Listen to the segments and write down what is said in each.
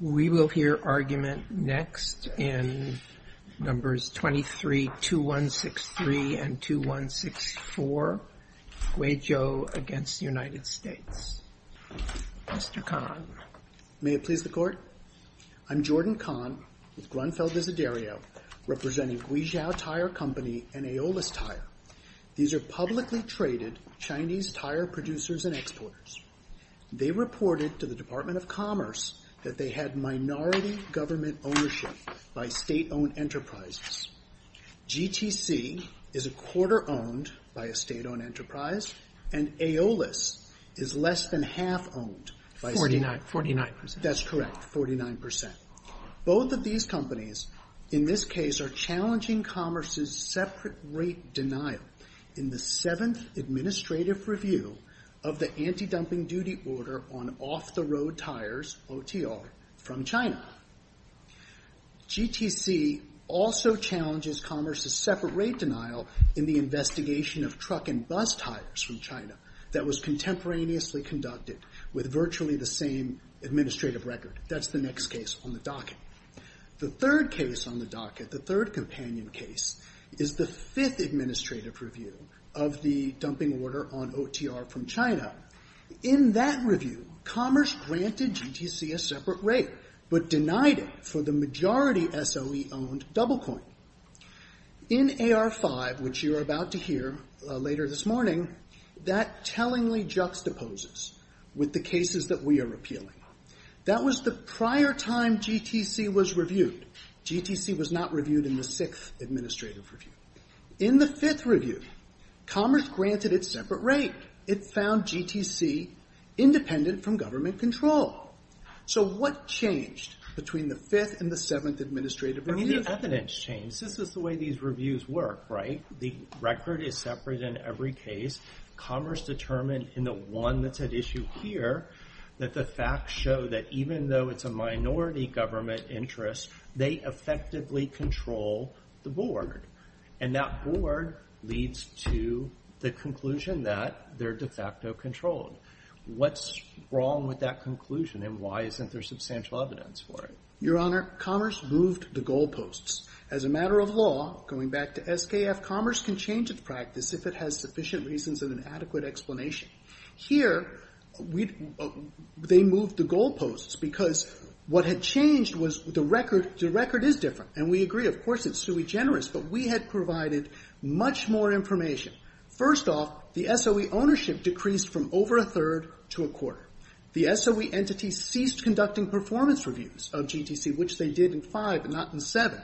We will hear argument next in Numbers 23-2163 and 2164, Guizhou v. United States. Mr. Kahn. May it please the Court? I'm Jordan Kahn with Grunfeld Visedario, representing Guizhou Tire Company and Aeolus Tire. These are publicly traded Chinese tire producers and exporters. They reported to the Department of Commerce that they had minority government ownership by state-owned enterprises. GTC is a quarter owned by a state-owned enterprise, and Aeolus is less than half owned by state Forty-nine percent. That's correct. Forty-nine percent. Both of these companies, in this case, are challenging Commerce's separate rate denial in the 7th Administrative Review of the Anti-Dumping Duty Order on Off-the-Road Tires, OTR, from China. GTC also challenges Commerce's separate rate denial in the investigation of truck and bus tires from China that was contemporaneously conducted with virtually the same administrative record. That's the next case on the docket. The third case on the docket, the third companion case, is the 5th Administrative Review of the Dumping Order on OTR from China. In that review, Commerce granted GTC a separate rate, but denied it for the majority SOE-owned double coin. In AR5, which you're about to hear later this morning, that tellingly juxtaposes with the cases that we are appealing. That was the prior time GTC was reviewed. GTC was not reviewed in the 6th Administrative Review. In the 5th review, Commerce granted it a separate rate. It found GTC independent from government control. So what changed between the 5th and the 7th Administrative Review? I mean, the evidence changed. This is the way these reviews work, right? The record is separate in every case. Commerce determined in the one that's at issue here that the facts show that even though it's a minority government interest, they effectively control the board. And that board leads to the conclusion that they're de facto controlled. What's wrong with that conclusion, and why isn't there substantial evidence for it? Your Honor, Commerce moved the goalposts. As a matter of law, going back to SKF, Commerce can change its practice if it has sufficient reasons and an adequate explanation. Here, they moved the goalposts because what had changed was the record. The record is different. And we agree, of course, it's sui generis, but we had provided much more information. First off, the SOE ownership decreased from over a third to a quarter. The SOE entity ceased conducting performance reviews of GTC, which they did in 5 and not in 7.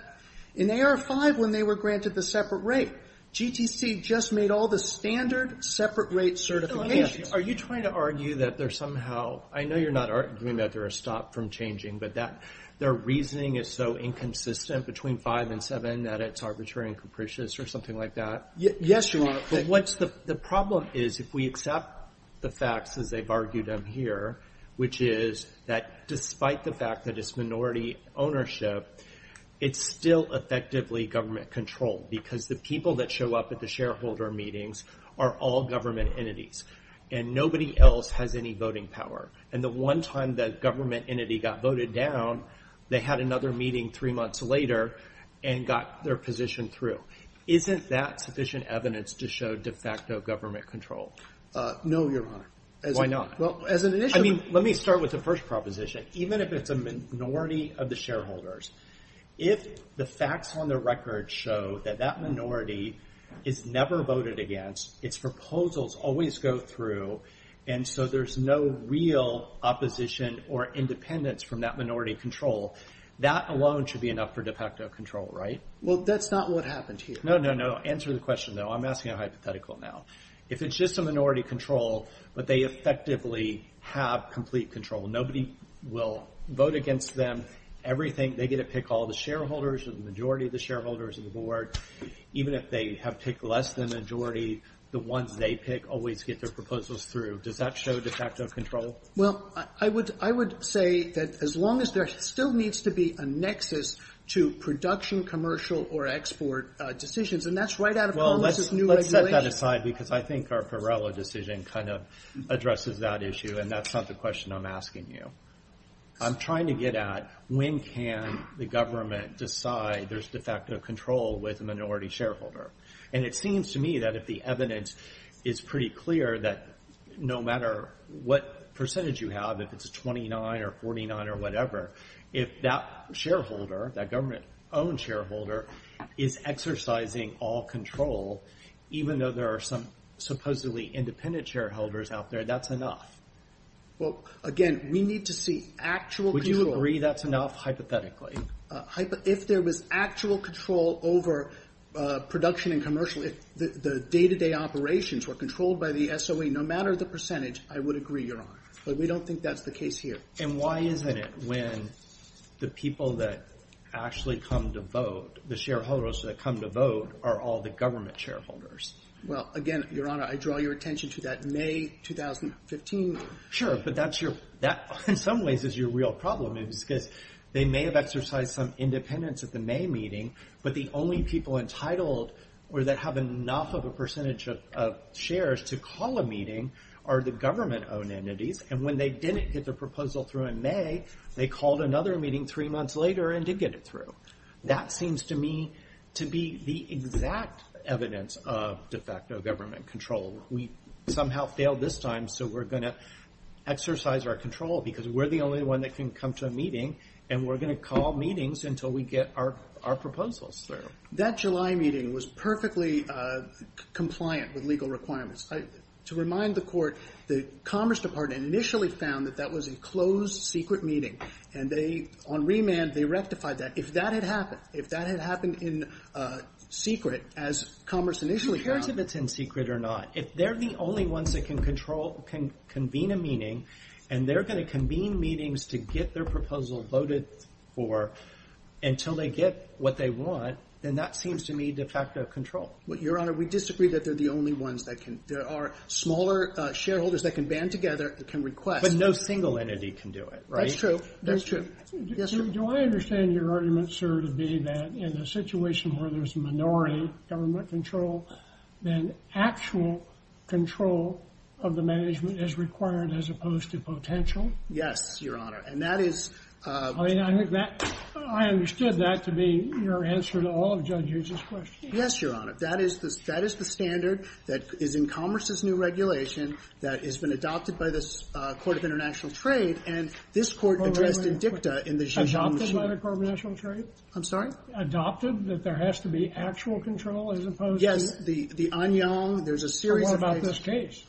In AR-5, when they were granted the separate rate, GTC just made all the standard separate rate certifications. Are you trying to argue that there's somehow — I know you're not arguing that there are stops from changing, but that their reasoning is so inconsistent between 5 and 7 that it's arbitrary and capricious or something like that? Yes, Your Honor. But what's the — the problem is if we accept the facts as they've argued them here, which is that despite the fact that it's minority ownership, it's still effectively government-controlled, because the people that show up at the shareholder meetings are all government entities, and nobody else has any voting power. And the one time the government entity got voted down, they had another meeting three months later and got their position through. Isn't that sufficient evidence to show de facto government control? No, Your Honor. Why not? Well, as an — I mean, let me start with the first proposition. Even if it's a minority of the shareholders, if the facts on the record show that that minority is never voted against, its proposals always go through, and so there's no real opposition or independence from that minority control, that alone should be enough for de facto control, right? Well, that's not what happened here. No, no, no. Answer the question, though. I'm asking a hypothetical now. If it's just a minority control, but they effectively have complete control, nobody will vote against them, everything — they get to pick all the shareholders or the majority of the shareholders of the board. Even if they have picked less than the majority, the ones they pick always get their proposals through. Does that show de facto control? Well, I would — I would say that as long as there still needs to be a nexus to production, commercial, or export decisions — and that's right out of Congress's new regulations. I'm putting that aside because I think our Perella decision kind of addresses that issue, and that's not the question I'm asking you. I'm trying to get at, when can the government decide there's de facto control with a minority shareholder? And it seems to me that if the evidence is pretty clear that no matter what percentage you have, if it's 29 or 49 or whatever, if that shareholder, that government-owned shareholder, is exercising all control, even though there are some supposedly independent shareholders out there, that's enough. Well, again, we need to see actual control. Would you agree that's enough, hypothetically? If there was actual control over production and commercial, if the day-to-day operations were controlled by the SOE, no matter the percentage, I would agree, Your Honor. But we don't think that's the case here. And why isn't it when the people that actually come to vote, the shareholders that come to vote, are all the government shareholders? Well, again, Your Honor, I draw your attention to that May 2015 — Sure, but that, in some ways, is your real problem, is because they may have exercised some independence at the May meeting, but the only people entitled or that have enough of a percentage of shares to call a meeting are the government-owned entities, and when they didn't get their proposal through in May, they called another meeting three months later and did get it through. That seems to me to be the exact evidence of de facto government control. We somehow failed this time, so we're going to exercise our control, because we're the only one that can come to a meeting, and we're going to call meetings until we get our proposals through. That July meeting was perfectly compliant with legal requirements. To remind the Court, the Commerce Department initially found that that was a closed, secret meeting, and they — on remand, they rectified that. If that had happened, if that had happened in secret, as Commerce initially found — It's imperative it's in secret or not. If they're the only ones that can control — can convene a meeting, and they're going to convene meetings to get their proposal voted for until they get what they want, then that seems to me de facto control. Your Honor, we disagree that they're the only ones that can — there are smaller shareholders that can band together and can request — But no single entity can do it, right? That's true. That's true. Do I understand your argument, sir, to be that in a situation where there's minority government control, then actual control of the management is required as opposed to potential? Yes, Your Honor, and that is — I mean, I think that — I understood that to be your answer to all of Judge Hughes's questions. Yes, Your Honor, that is the — that is the standard that is in Commerce's new regulation that has been adopted by the Court of International Trade. And this Court addressed in dicta in the — Adopted by the Court of International Trade? I'm sorry? Adopted? That there has to be actual control as opposed to — Yes, the Anyang, there's a series of — What about this case?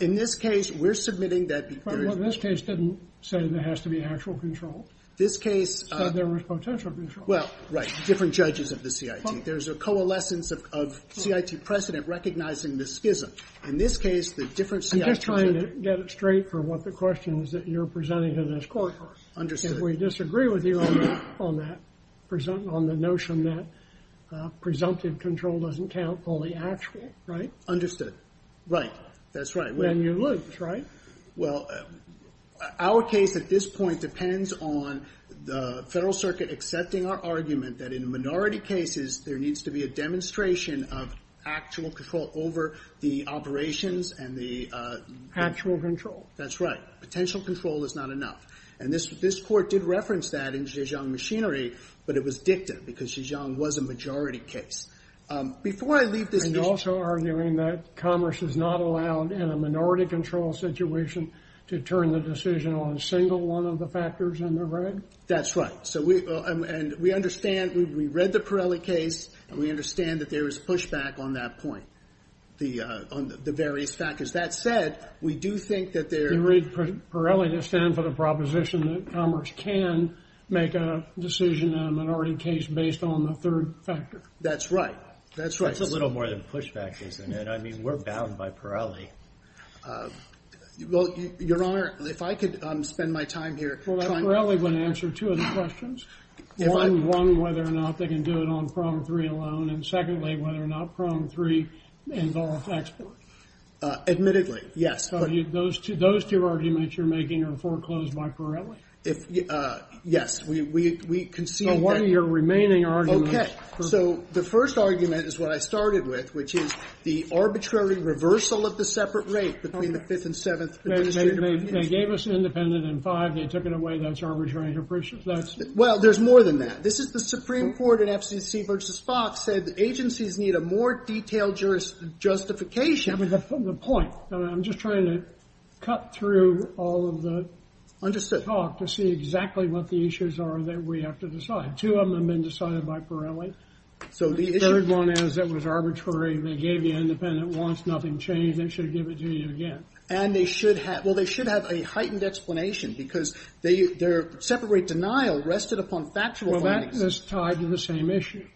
In this case, we're submitting that — But this case didn't say there has to be actual control. This case — Said there was potential control. Well, right. Different judges of the CIT. There's a coalescence of CIT precedent recognizing the schism. In this case, the different CIT — I'm just trying to get it straight for what the question is that you're presenting to this Court. Understood. If we disagree with you on that, on the notion that presumptive control doesn't count, only actual, right? Understood. Right. That's right. Then you lose, right? Well, our case at this point depends on the Federal Circuit accepting our argument that in minority cases, there needs to be a demonstration of actual control over the operations and the — Actual control. That's right. Potential control is not enough. And this Court did reference that in Zhejiang machinery, but it was dicta because Zhejiang was a majority case. Before I leave this — And also arguing that commerce is not allowed in a minority control situation to turn the decision on a single one of the factors in the red? That's right. And we understand — we read the Pirelli case, and we understand that there is pushback on that point, the various factors. That said, we do think that there — You read Pirelli to stand for the proposition that commerce can make a decision in a minority case based on the third factor. That's right. That's right. That's a little more than pushback, isn't it? I mean, we're bound by Pirelli. Well, Your Honor, if I could spend my time here — Pirelli would answer two of the questions. One, whether or not they can do it on PROM 3 alone, and secondly, whether or not PROM 3 involves export. Admittedly, yes. Those two arguments you're making are foreclosed by Pirelli? If — yes, we concede that — So what are your remaining arguments? Okay. So the first argument is what I started with, which is the arbitrary reversal of the separate rate between the fifth and seventh administrative revisions. They gave us independent and five. They took it away. That's arbitrary and capricious. That's — Well, there's more than that. This is — the Supreme Court in FCC versus Fox said agencies need a more detailed justification. I mean, the point — I'm just trying to cut through all of the — Understood. — talk to see exactly what the issues are that we have to decide. Two of them have been decided by Pirelli. So the issue — The third one is it was arbitrary. They gave you independent once. Nothing changed. They should give it to you again. And they should have — well, they should have a heightened explanation because they — their separate rate denial rested upon factual findings. Well, that's tied to the same issue.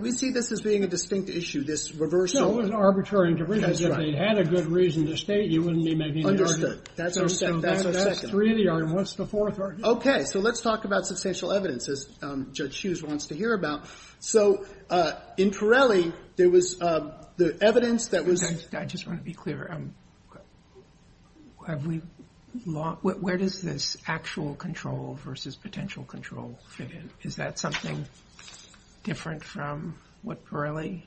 We see this as being a distinct issue, this reversal. No, it was arbitrary and capricious. If they had a good reason to state, you wouldn't be making the argument. Understood. That's our second — that's our second. That's three in the argument. What's the fourth argument? Okay. So let's talk about substantial evidence, as Judge Hughes wants to hear about. So in Pirelli, there was the evidence that was — I just want to be clear. Have we — where does this actual control versus potential control fit in? Is that something different from what Pirelli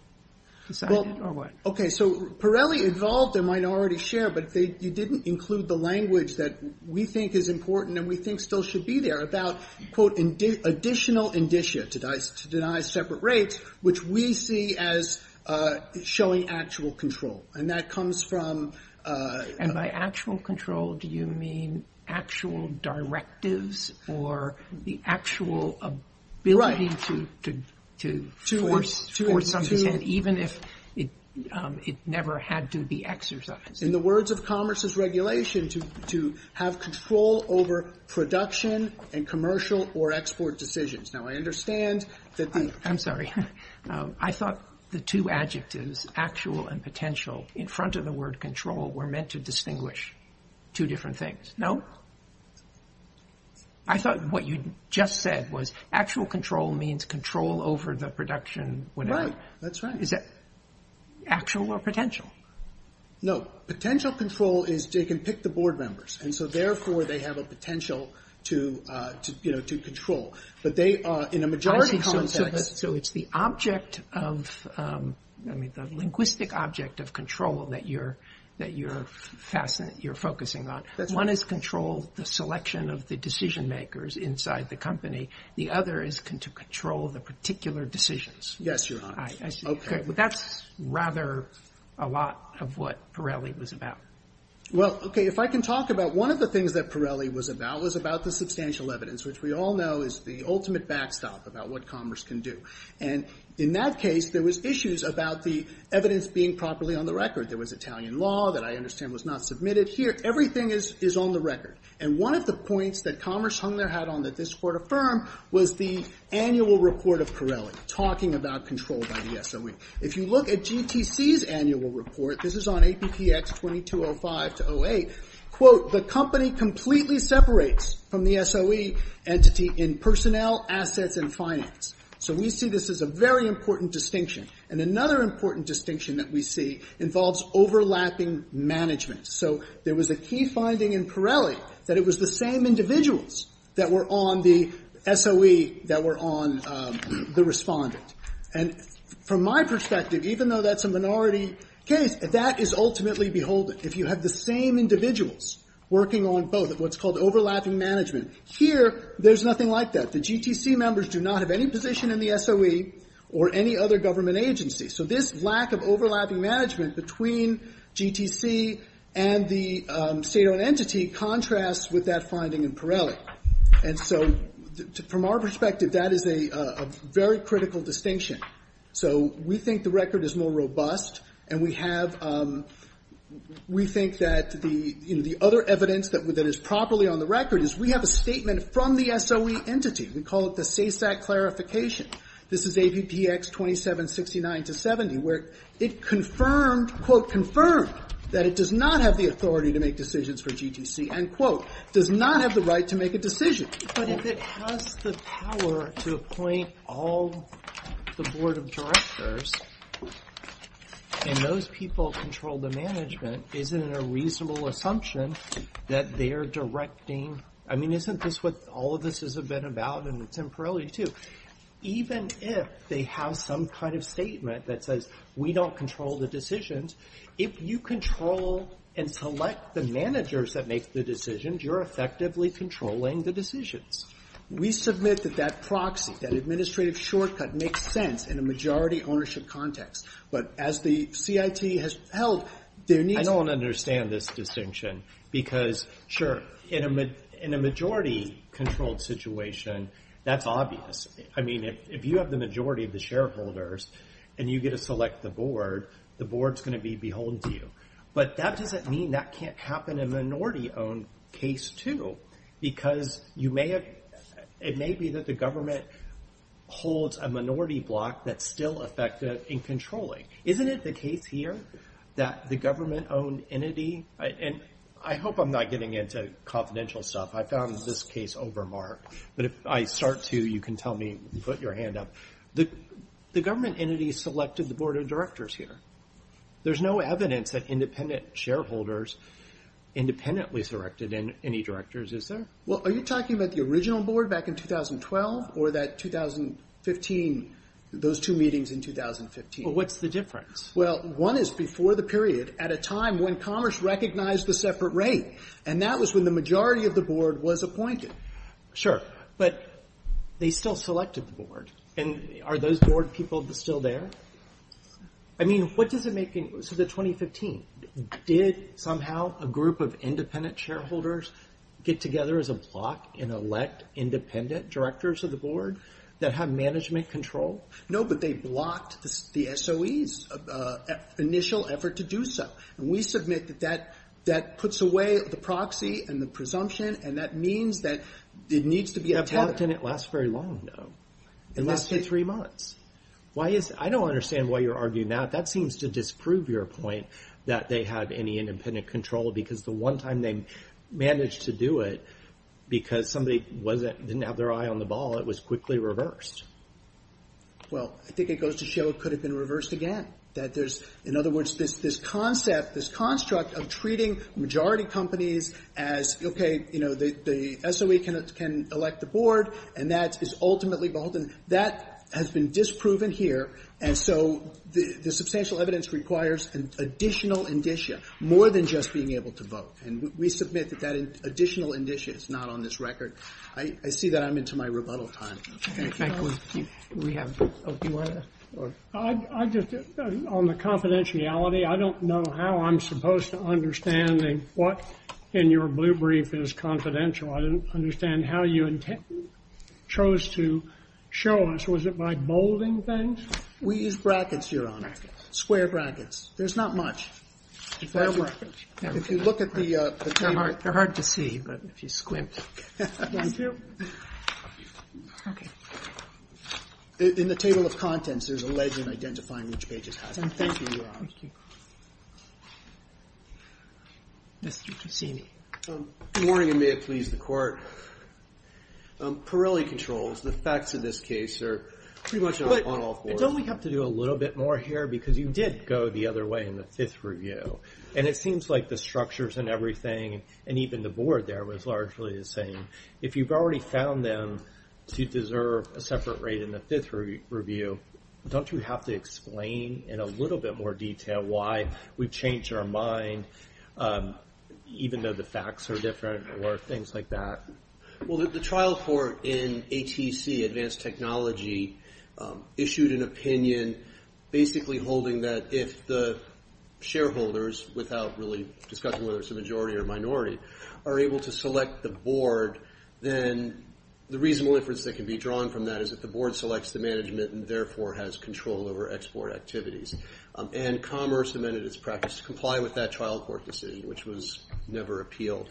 decided or what? Okay. So Pirelli involved a minority share, but they — you didn't include the language that we think is important and we think still should be there about, quote, additional indicia to deny separate rates, which we see as showing actual control. And that comes from — And by actual control, do you mean actual directives or the actual ability to force something, even if it never had to be exercised? In the words of Commerce's regulation, to have control over production and commercial or export decisions. Now, I understand that the — I'm sorry. I thought the two adjectives, actual and potential, in front of the word control, were meant to distinguish two different things. No? I thought what you just said was actual control means control over the production, whatever. That's right. Is that actual or potential? No. Potential control is they can pick the board members. And so therefore, they have a potential to, you know, to control. But they are, in a majority context — So it's the object of — I mean, the linguistic object of control that you're — that you're fascinated — you're focusing on. One is control the selection of the decision makers inside the company. The other is to control the particular decisions. Yes, Your Honor. I see. Okay. But that's rather a lot of what Pirelli was about. Well, okay, if I can talk about — one of the things that Pirelli was about was about the substantial evidence, which we all know is the ultimate backstop about what commerce can do. And in that case, there was issues about the evidence being properly on the record. There was Italian law that I understand was not submitted. Here, everything is on the record. And one of the points that Commerce hung their hat on that this Court affirmed was the annual report of Pirelli talking about control by the SOE. If you look at GTC's annual report — this is on APPX 2205-08 — quote, So we see this as a very important distinction. And another important distinction that we see involves overlapping management. So there was a key finding in Pirelli that it was the same individuals that were on the SOE that were on the respondent. And from my perspective, even though that's a minority case, that is ultimately beholden. If you have the same individuals working on both — what's called overlapping management — here, there's nothing like that. The GTC members do not have any position in the SOE or any other government agency. So this lack of overlapping management between GTC and the state-owned entity contrasts with that finding in Pirelli. And so from our perspective, that is a very critical distinction. So we think the record is more robust. And we have — we think that the — you know, the other evidence that is properly on the record is we have a statement from the SOE entity. We call it the SASAC clarification. This is APPX 2769-70, where it confirmed — quote, That it does not have the authority to make decisions for GTC. End quote. Does not have the right to make a decision. But if it has the power to appoint all the board of directors, and those people control the management, is it a reasonable assumption that they're directing — I mean, isn't this what all of this has been about, and it's in Pirelli, too? Even if they have some kind of statement that says, we don't control the decisions, if you control and select the managers that make the decisions, you're effectively controlling the decisions. We submit that that proxy, that administrative shortcut makes sense in a majority ownership context. But as the CIT has held, there needs — I don't understand this distinction. Because, sure, in a majority-controlled situation, that's obvious. I mean, if you have the majority of the shareholders, and you get to select the board, the board's going to be beholden to you. But that doesn't mean that can't happen in a minority-owned case, too. Because it may be that the government holds a minority block that's still effective in controlling. Isn't it the case here that the government-owned entity — and I hope I'm not getting into confidential stuff. I found this case overmarked. But if I start to, you can tell me, put your hand up. The government entity selected the board of directors here. There's no evidence that independent shareholders independently selected any directors, is it? Are you talking about the original board back in 2012 or that 2015, those two meetings in 2015? What's the difference? Well, one is before the period, at a time when commerce recognized the separate rate. And that was when the majority of the board was appointed. Sure. But they still selected the board. And are those board people still there? I mean, what does it make — so the 2015, did somehow a group of independent shareholders get together as a block and elect independent directors of the board that have management control? No, but they blocked the SOE's initial effort to do so. And we submit that that puts away the proxy and the presumption. And that means that it needs to be — That block didn't last very long, though. It lasted three months. Why is — I don't understand why you're arguing that. That seems to disprove your point that they have any independent control. Because the one time they managed to do it, because somebody didn't have their eye on the ball, it was quickly reversed. Well, I think it goes to show it could have been reversed again. That there's — in other words, this concept, this construct of treating majority companies as, OK, you know, the SOE can elect the board, and that is ultimately — that has been disproven here. And so the substantial evidence requires an additional indicia, more than just being able to vote. And we submit that that additional indicia is not on this record. I see that I'm into my rebuttal time. Thank you. Thank you. We have — oh, do you want to — I just — on the confidentiality, I don't know how I'm supposed to understand what in your blue brief is confidential. I don't understand how you chose to show us. Was it by bolding things? We use brackets, Your Honor. Square brackets. There's not much. If you look at the table — They're hard to see, but if you squint. Thank you. OK. In the table of contents, there's a legend identifying which pages have them. Thank you, Your Honor. Thank you. Yes, you can see me. Good morning, and may it please the Court. Pirelli controls. The facts of this case are pretty much on all fours. Don't we have to do a little bit more here? Because you did go the other way in the fifth review, and it seems like the structures and everything, and even the board there, was largely the same. If you've already found them to deserve a separate rate in the fifth review, don't you have to explain in a little bit more detail why we've changed our mind, even though the facts are different or things like that? Well, the trial court in ATC, Advanced Technology, issued an opinion basically holding that if the shareholders, without really discussing whether it's a majority or minority, are able to select the board, then the reasonable inference that can be drawn from that is that the board selects the management and therefore has control over export activities. And Commerce amended its practice to comply with that trial court decision, which was never appealed.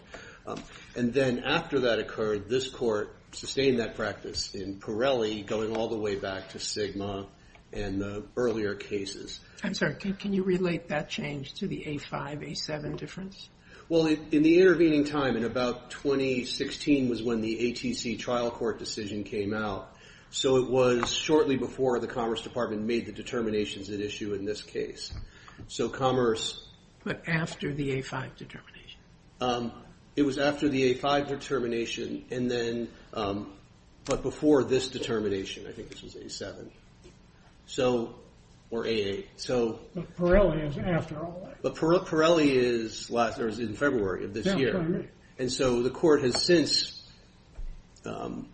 And then after that occurred, this court sustained that practice in Pirelli, going all the way back to Sigma and the earlier cases. I'm sorry. Can you relate that change to the A5, A7 difference? Well, in the intervening time, in about 2016, was when the ATC trial court decision came out. So it was shortly before the Commerce Department made the determinations at issue in this case. So Commerce- But after the A5 determination? It was after the A5 determination and then- but before this determination. I think this was A7. So- or A8. So- But Pirelli is after all that. But Pirelli is in February of this year. And so the court has since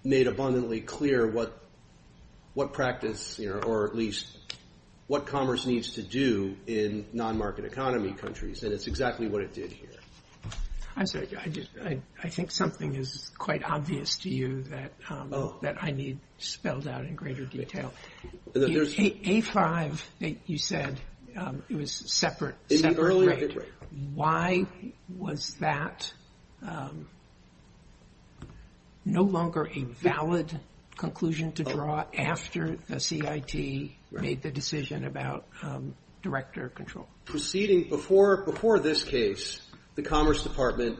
made abundantly clear what practice, or at least what Commerce needs to do in non-market economy countries. And it's exactly what it did here. I'm sorry. I just- I think something is quite obvious to you that I need spelled out in greater detail. And then there's- A5, you said it was separate, separate rate. Why was that no longer a valid conclusion to draw after the CIT made the decision about director control? Proceeding before this case, the Commerce Department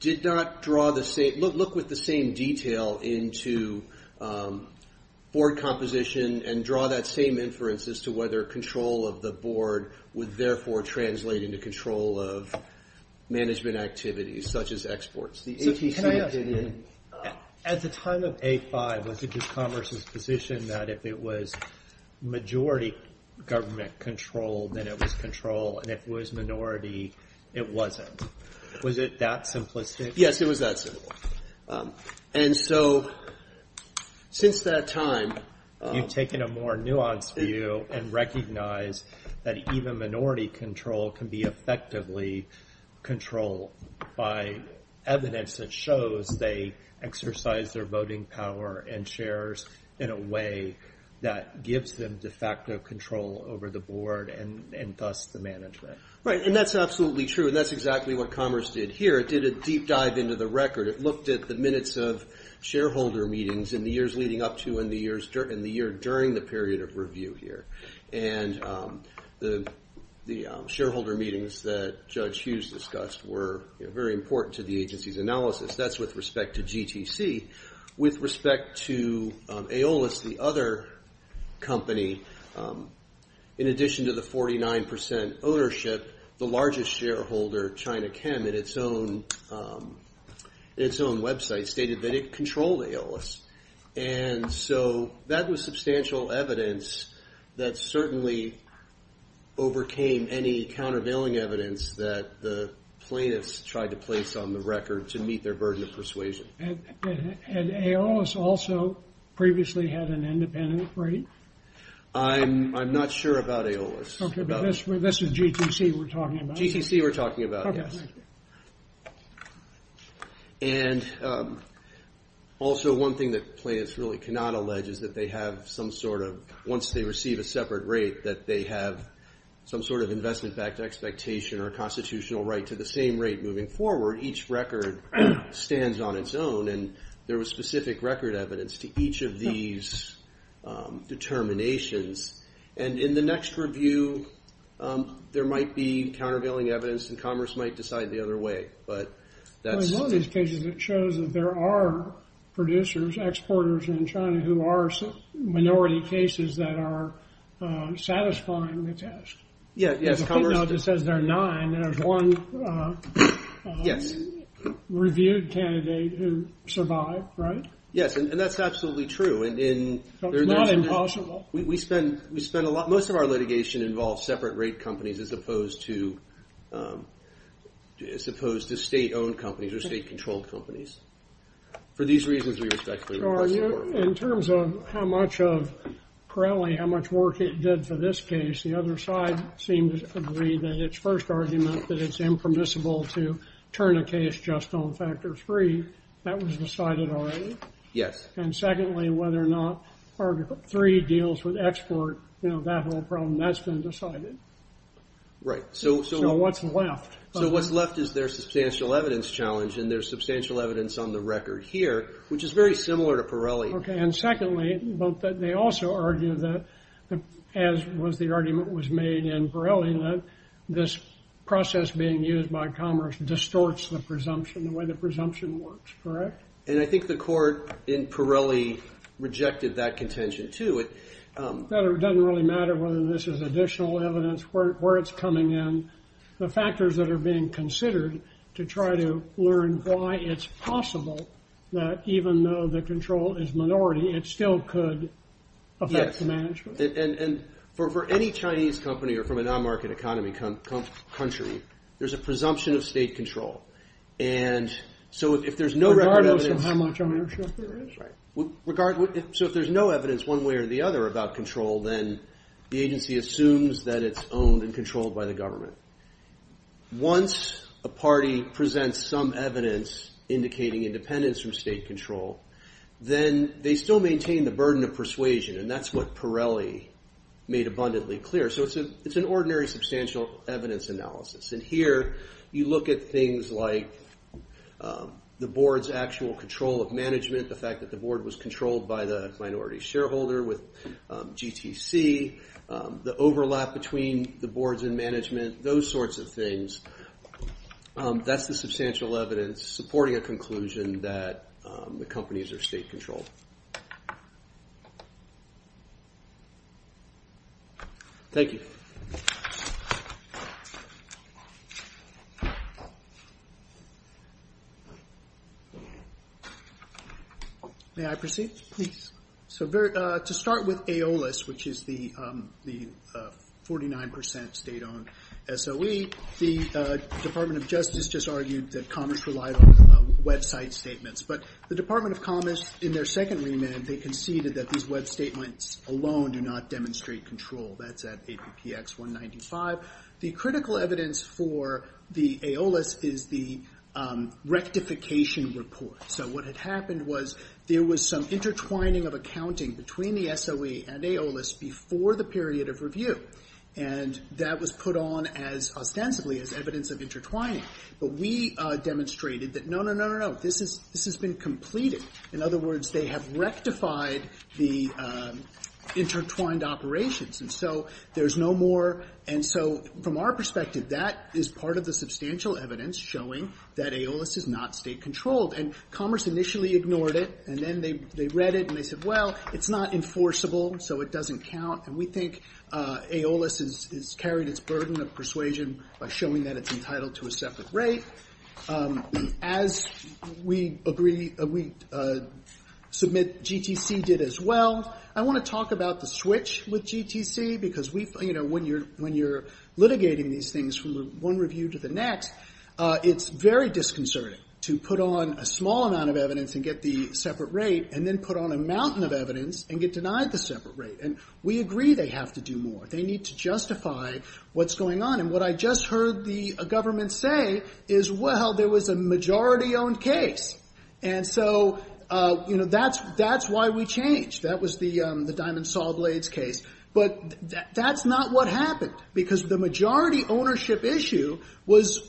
did not draw the same- look with the same detail into board composition and draw that same inference as to whether control of the board would therefore translate into control of management activities, such as exports. The ATC- Can I ask you a question? At the time of A5, was it just Commerce's position that if it was majority government control, then it was control? And if it was minority, it wasn't? Was it that simplistic? Yes, it was that simple. And so since that time- You've taken a more nuanced view and recognize that even minority control can be effectively control by evidence that shows they exercise their voting power and shares in a way that gives them de facto control over the board and thus the management. Right. And that's absolutely true. And that's exactly what Commerce did here. It did a deep dive into the record. It looked at the minutes of shareholder meetings in the years leading up to and the year during the period of review here. And the shareholder meetings that Judge Hughes discussed were very important to the agency's analysis. That's with respect to GTC. With respect to Aeolus, the other company, in addition to the 49% ownership, the largest shareholder, China Chem, in its own website stated that it controlled Aeolus. And so that was substantial evidence that certainly overcame any countervailing evidence that the plaintiffs tried to place on the record to meet their burden of persuasion. And Aeolus also previously had an independent rate? I'm not sure about Aeolus. Okay, but this is GTC we're talking about? GTC we're talking about, yes. Okay. And also one thing that plaintiffs really cannot allege is that they have some sort of, once they receive a separate rate, that they have some sort of investment back to expectation or constitutional right to the same rate moving forward. Each record stands on its own. And there was specific record evidence to each of these determinations. And in the next review, there might be countervailing evidence. And Commerce might decide the other way. But that's... In one of these cases, it shows that there are producers, exporters in China, who are minority cases that are satisfying the test. Yeah, yes. Commerce just says there are nine. There's one reviewed candidate who survived, right? Yes, and that's absolutely true. And in... It's not impossible. We spend a lot... Most of our litigation involves separate rate companies, as opposed to state-owned companies or state-controlled companies. For these reasons, we respectfully request support. In terms of how much of Crowley, how much work it did for this case, the other side seems to agree that its first argument, that it's impermissible to turn a case just on factor three, that was decided already. Yes. And secondly, whether or not article three deals with export, that whole problem, that's been decided. Right. So what's left? So what's left is their substantial evidence challenge, and there's substantial evidence on the record here, which is very similar to Pirelli. Okay. And secondly, they also argue that, as the argument was made in Pirelli, that this process being used by Commerce distorts the presumption, the way the presumption works, correct? And I think the court in Pirelli rejected that contention too. That it doesn't really matter whether this is additional evidence, where it's coming in, the factors that are being considered to try to learn why it's possible that even though the control is minority, it still could affect the management. And for any Chinese company or from a non-market economy country, there's a presumption of state control. And so if there's no record of evidence- Regardless of how much ownership there is. Right. So if there's no evidence one way or the other about control, then the agency assumes that it's owned and controlled by the government. Once a party presents some evidence indicating independence from state control, then they still maintain the burden of persuasion, and that's what Pirelli made abundantly clear. So it's an ordinary substantial evidence analysis. And here, you look at things like the board's actual control of management, the fact that the board was controlled by the minority shareholder with GTC, the overlap between the boards and management, those sorts of things. That's the substantial evidence supporting a conclusion that the companies are state controlled. Thank you. May I proceed? Please. So to start with AOLIS, which is the 49% state-owned SOE, the Department of Justice just argued that Commerce relied on website statements. But the Department of Commerce, in their second remit, they conceded that these web statements alone do not demonstrate control. That's at APPX 195. The critical evidence for the AOLIS is the rectification report. So what had happened was there was some intertwining of accounting between the SOE and AOLIS before the period of review, and that was put on as ostensibly as evidence of intertwining. But we demonstrated that, no, no, no, no, no, this has been completed. In other words, they have rectified the intertwined operations. And so there's no more. And so from our perspective, that is part of the substantial evidence showing that AOLIS is not state controlled. And Commerce initially ignored it, and then they read it, and they said, well, it's not enforceable, so it doesn't count. And we think AOLIS has carried its burden of persuasion by showing that it's entitled to a separate rate, as we submit GTC did as well. I want to talk about the switch with GTC, because when you're litigating these things from one review to the next, it's very disconcerting to put on a small amount of evidence and get the separate rate, and then put on a mountain of evidence and get denied the separate rate. And we agree they have to do more. They need to justify what's going on. And what I just heard the government say is, well, there was a majority-owned case. And so that's why we changed. That was the Diamond Saw Blades case. But that's not what happened. Because the majority ownership issue was,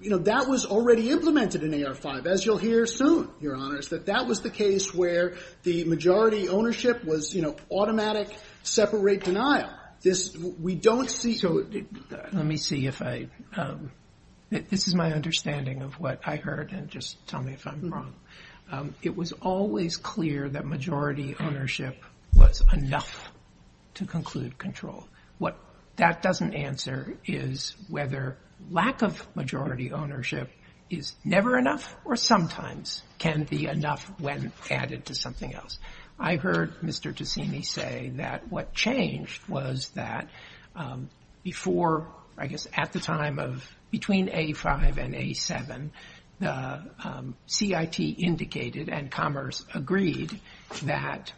you know, that was already implemented in AR-5, as you'll hear soon, Your Honors, that that was the case where the majority ownership was, you know, automatic separate denial. This, we don't see. So let me see if I, this is my understanding of what I heard, and just tell me if I'm wrong. It was always clear that majority ownership was enough to conclude control. What that doesn't answer is whether lack of majority ownership is never enough or sometimes can be enough when added to something else. I heard Mr. Ticini say that what changed was that before, I guess at the time of, between A-5 and A-7, the CIT indicated and Commerce agreed that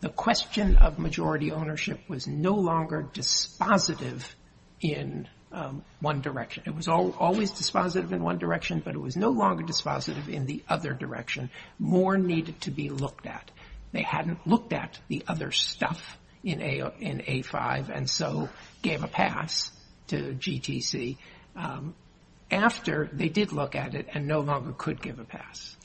the question of majority ownership was no longer dispositive in one direction. It was always dispositive in one direction, but it was no longer dispositive in the other direction. More needed to be looked at. They hadn't looked at the other stuff in A-5, and so gave a pass to GTC after they did look at it and no longer could give a pass.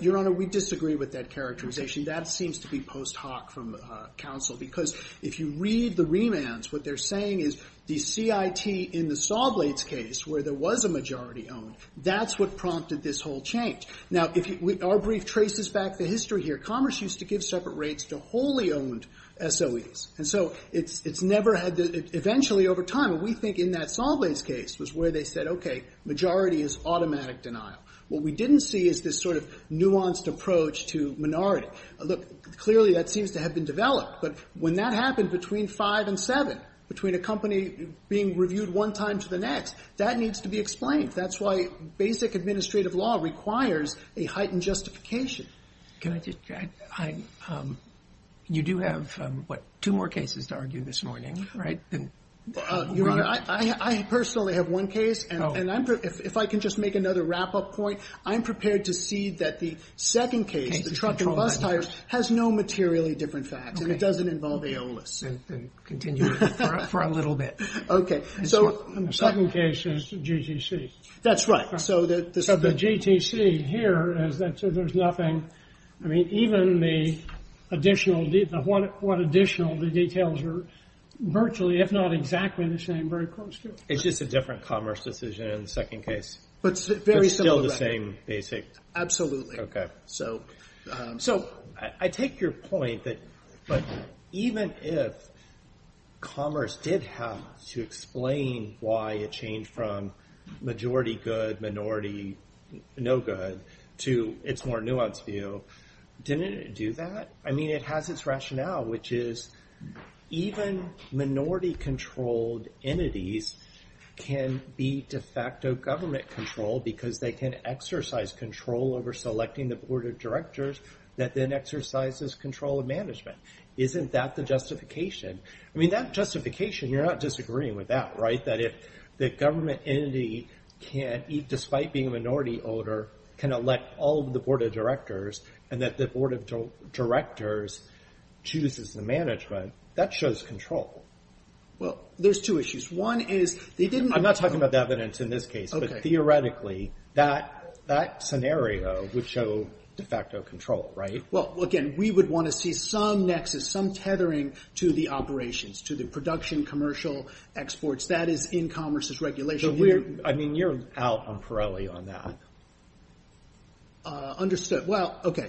Your Honor, we disagree with that characterization. That seems to be post hoc from counsel. Because if you read the remands, what they're saying is the CIT in the Sawblades case, where there was a majority owned, that's what prompted this whole change. Now, if you, our brief traces back the history here. Commerce used to give separate rates to wholly owned SOEs, and so it's never had the, eventually over time, we think in that Sawblades case was where they said, okay, majority is automatic denial. What we didn't see is this sort of nuanced approach to minority. Look, clearly that seems to have been developed, but when that happened between 5 and 7, between a company being reviewed one time to the next, that needs to be explained. That's why basic administrative law requires a heightened justification. Can I just, I, you do have, what, two more cases to argue this morning, right? Your Honor, I personally have one case, and I'm, if I can just make another wrap-up point, I'm prepared to see that the second case, the truck and bus tires, has no materially different facts, and it doesn't involve AOLIS. Then continue for a little bit. Okay. The second case is the GTC. That's right. So the GTC here is that there's nothing, I mean, even the additional, what additional, the details are virtually, if not exactly the same, very close to. It's just a different commerce decision in the second case. But still the same basic. Absolutely. So I take your point that, but even if commerce did have to explain why it changed from majority good, minority no good, to it's more nuanced view, didn't it do that? I mean, it has its rationale, which is even minority-controlled entities can be de facto government control because they can exercise control over selecting the board of directors that then exercises control of management. Isn't that the justification? I mean, that justification, you're not disagreeing with that, right? That if the government entity can, despite being a minority owner, can elect all of the board of directors, and that the board of directors chooses the management, that shows control. Well, there's two issues. One is, they didn't- Theoretically, that scenario would show de facto control, right? Well, again, we would want to see some nexus, some tethering to the operations, to the production, commercial, exports. That is in commerce's regulation. I mean, you're out on Pirelli on that. Well, okay.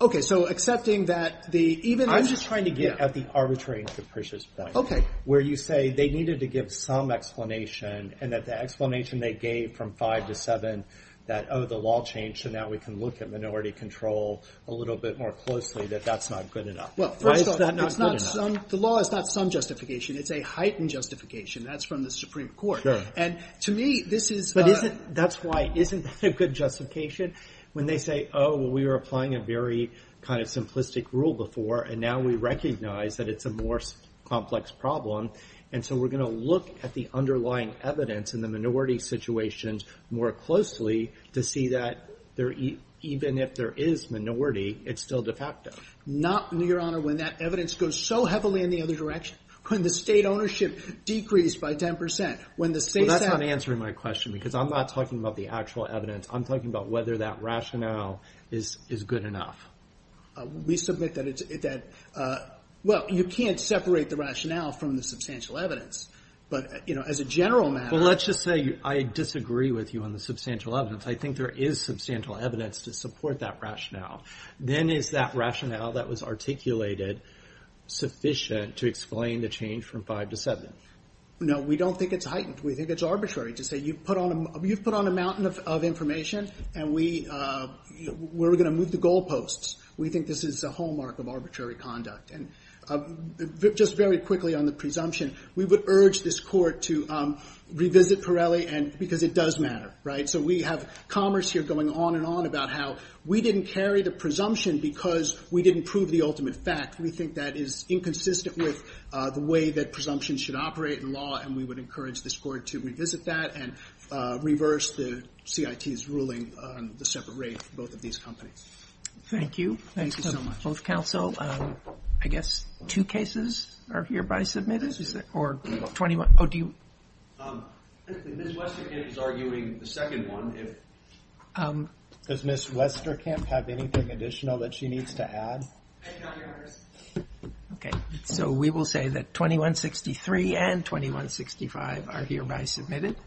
Okay, so accepting that the- I'm just trying to get at the arbitrary and capricious point. Okay. Where you say they needed to give some explanation, and that the explanation they gave from five to seven, that, oh, the law changed, and now we can look at minority control a little bit more closely, that that's not good enough. Well, first of all- Why is that not good enough? The law is not some justification. It's a heightened justification. That's from the Supreme Court. And to me, this is- But isn't- That's why, isn't that a good justification? When they say, oh, well, we were applying a very kind of simplistic rule before, and now we recognize that it's a more complex problem. And so we're going to look at the underlying evidence in the minority situations more closely to see that even if there is minority, it's still de facto. Not, your honor, when that evidence goes so heavily in the other direction. When the state ownership decreased by 10%, when the state- Well, that's not answering my question, because I'm not talking about the actual evidence. I'm talking about whether that rationale is good enough. We submit that, well, you can't separate the rationale from the substantial evidence. But as a general matter- Well, let's just say I disagree with you on the substantial evidence. I think there is substantial evidence to support that rationale. Then is that rationale that was articulated sufficient to explain the change from 5 to 7? No, we don't think it's heightened. We think it's arbitrary to say you've put on a mountain of information, and we're going to move the goalposts. We think this is a hallmark of arbitrary conduct. And just very quickly on the presumption, we would urge this court to revisit Pirelli, because it does matter, right? So we have commerce here going on and on about how we didn't carry the presumption because we didn't prove the ultimate fact. We think that is inconsistent with the way that presumption should operate in law, and we would encourage this court to revisit that and reverse the CIT's ruling on the separate rate for both of these companies. Thank you. Thank you so much. Both counsel, I guess two cases are hereby submitted, or 21? Oh, do you- Ms. Westerkamp is arguing the second one. Does Ms. Westerkamp have anything additional that she needs to add? I do not hear hers. Okay, so we will say that 2163 and 2165 are hereby submitted.